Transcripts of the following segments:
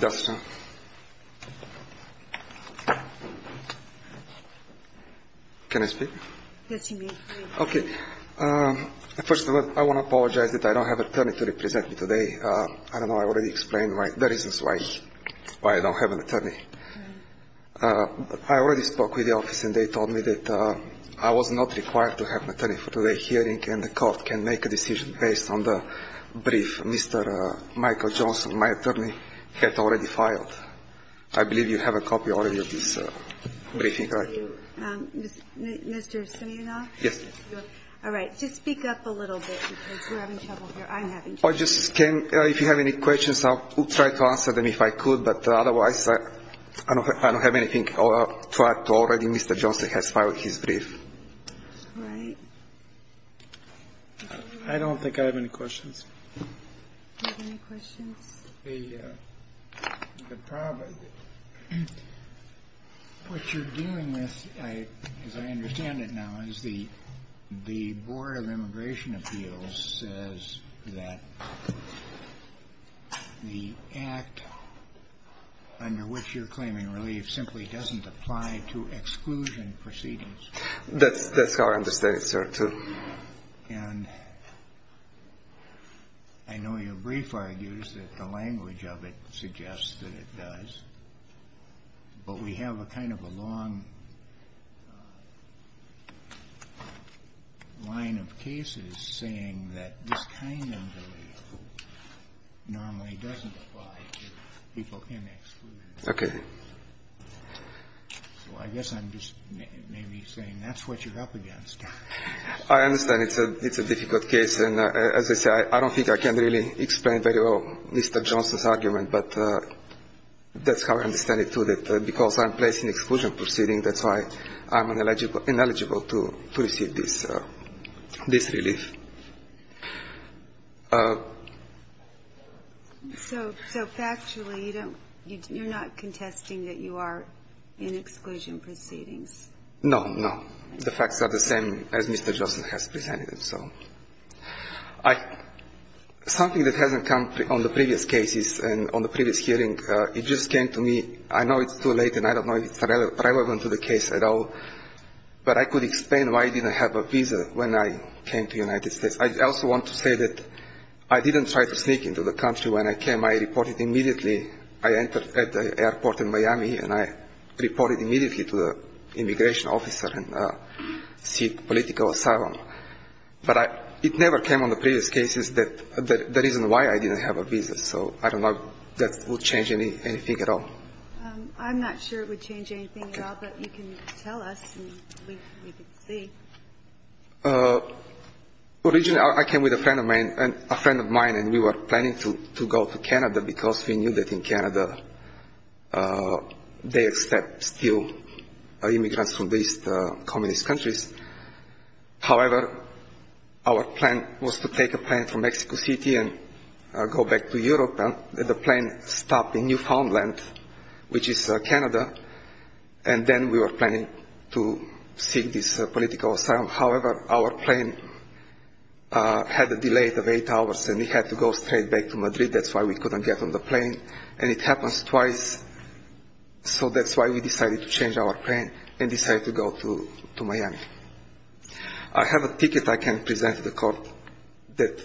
Dostoevsky Can I speak? Yes, you may. Okay. First of all, I want to apologize that I don't have an attorney to represent me today. I don't know. I already explained the reasons why I don't have an attorney. I already spoke with the office and they told me that I was not required to have an attorney for today's hearing and the court can make a decision based on the brief Mr. Michael Johnson, my attorney, had already filed. I believe you have a copy already of this briefing, right? Mr. Simeonov? Yes. All right. Just speak up a little bit because you're having trouble here. I'm having trouble. If you have any questions, I'll try to answer them if I could, but otherwise I don't have anything. I'll try to. Already Mr. Johnson has filed his brief. All right. I don't think I have any questions. You have any questions? The problem is what you're dealing with, as I understand it now, is the Board of Immigration Appeals says that the act under which you're claiming relief simply doesn't apply to exclusion proceedings. That's how I understand it, sir. And I know your brief argues that the language of it suggests that it does, but we have a kind of a long line of cases saying that this kind of relief normally doesn't apply to people in exclusion. Okay. So I guess I'm just maybe saying that's what you're up against. I understand it's a difficult case, and as I say, I don't think I can really explain very well Mr. Johnson's argument, but that's how I understand it, too, that because I'm placed in exclusion proceeding, that's why I'm ineligible to receive this relief. So factually, you're not contesting that you are in exclusion proceedings? No, no. The facts are the same as Mr. Johnson has presented them. So something that hasn't come on the previous cases and on the previous hearing, it just came to me. I know it's too late, and I don't know if it's relevant to the case at all, but I could explain why I didn't have a visa when I came to the United States. I also want to say that I didn't try to sneak into the country. When I came, I reported immediately. I entered at the airport in Miami, and I reported immediately to the immigration officer and seek political asylum. But it never came on the previous cases that the reason why I didn't have a visa. So I don't know if that would change anything at all. I'm not sure it would change anything at all, but you can tell us and we can see. Originally, I came with a friend of mine, and we were planning to go to Canada because we knew that in Canada they accept still immigrants from these communist countries. However, our plan was to take a plane from Mexico City and go back to Europe. The plane stopped in Newfoundland, which is Canada, and then we were planning to seek this political asylum. However, our plane had a delay of eight hours, and we had to go straight back to Madrid. That's why we couldn't get on the plane, and it happens twice. So that's why we decided to change our plane and decided to go to Miami. I have a ticket I can present to the court that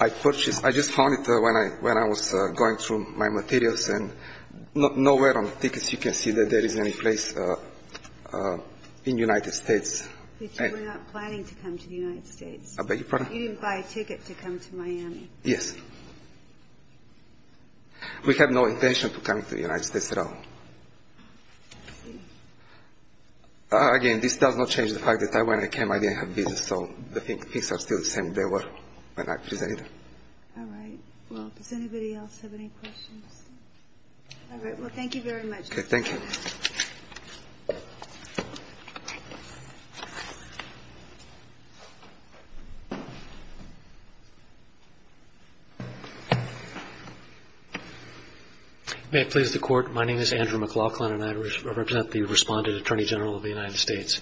I purchased. I just found it when I was going through my materials, and nowhere on the tickets you can see that there is any place in the United States. But you were not planning to come to the United States? I beg your pardon? You didn't buy a ticket to come to Miami? Yes. We had no intention to come to the United States at all. Again, this does not change the fact that when I came I didn't have a visa, so the visas are still the same they were when I presented them. All right. Well, does anybody else have any questions? All right. Well, thank you very much. Thank you. May it please the Court, my name is Andrew McLaughlin, and I represent the Respondent Attorney General of the United States.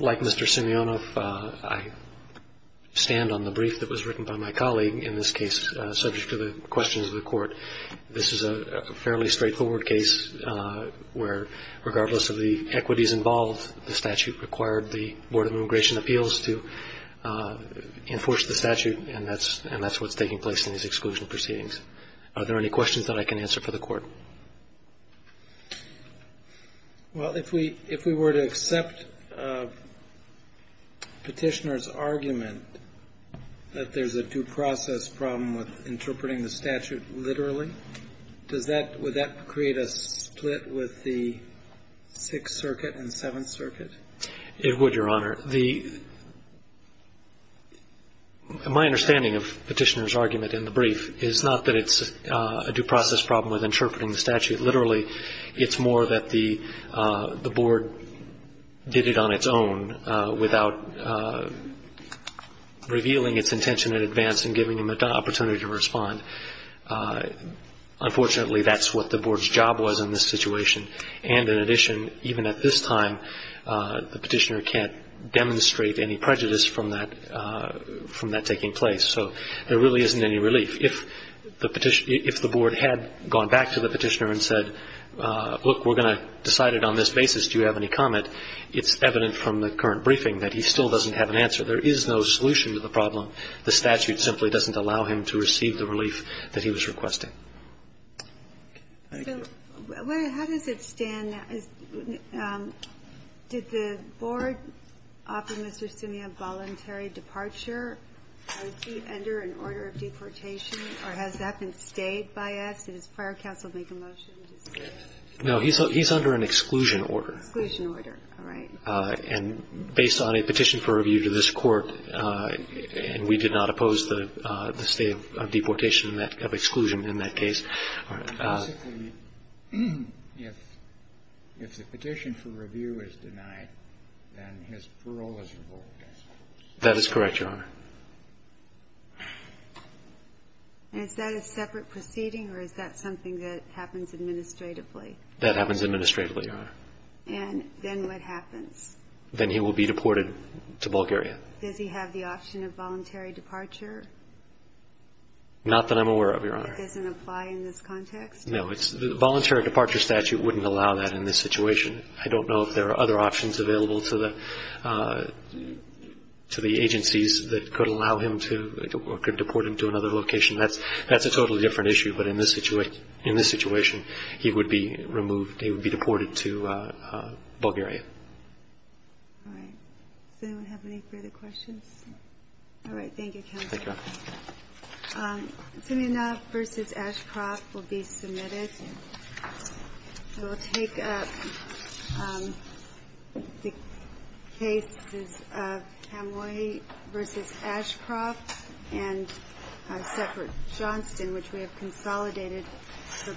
Like Mr. Simeonov, I stand on the brief that was written by my colleague in this case, subject to the questions of the Court. This is a fairly straightforward case where, regardless of the equities involved, the statute required the Board of Immigration Appeals to enforce the statute, and that's what's taking place in these exclusion proceedings. Well, if we were to accept Petitioner's argument that there's a due process problem with interpreting the statute literally, does that – would that create a split with the Sixth Circuit and Seventh Circuit? It would, Your Honor. My understanding of Petitioner's argument in the brief is not that it's a due process problem with interpreting the statute literally. It's more that the Board did it on its own without revealing its intention in advance and giving him an opportunity to respond. Unfortunately, that's what the Board's job was in this situation. And in addition, even at this time, the Petitioner can't demonstrate any prejudice from that taking place. So there really isn't any relief. If the Petitioner – if the Board had gone back to the Petitioner and said, look, we're going to decide it on this basis, do you have any comment, it's evident from the current briefing that he still doesn't have an answer. There is no solution to the problem. The statute simply doesn't allow him to receive the relief that he was requesting. Thank you. So how does it stand? Did the Board offer Mr. Simeon voluntary departure? Is he under an order of deportation, or has that been stayed by us? Did his prior counsel make a motion to stay? No. He's under an exclusion order. Exclusion order. All right. And based on a petition for review to this Court, and we did not oppose the stay of deportation, of exclusion in that case. Basically, if the petition for review is denied, then his parole is revoked. That is correct, Your Honor. Is that a separate proceeding, or is that something that happens administratively? That happens administratively, Your Honor. And then what happens? Then he will be deported to Bulgaria. Does he have the option of voluntary departure? Not that I'm aware of, Your Honor. It doesn't apply in this context? No. The voluntary departure statute wouldn't allow that in this situation. I don't know if there are other options available to the agencies that could allow him to or could deport him to another location. That's a totally different issue, but in this situation, he would be removed. He would be deported to Bulgaria. All right. Does anyone have any further questions? All right. Thank you, counsel. Thank you, Your Honor. Simeonov v. Ashcroft will be submitted. I will take up the cases of Kamloi v. Ashcroft and Seppert-Johnston, which we have consolidated for both cases.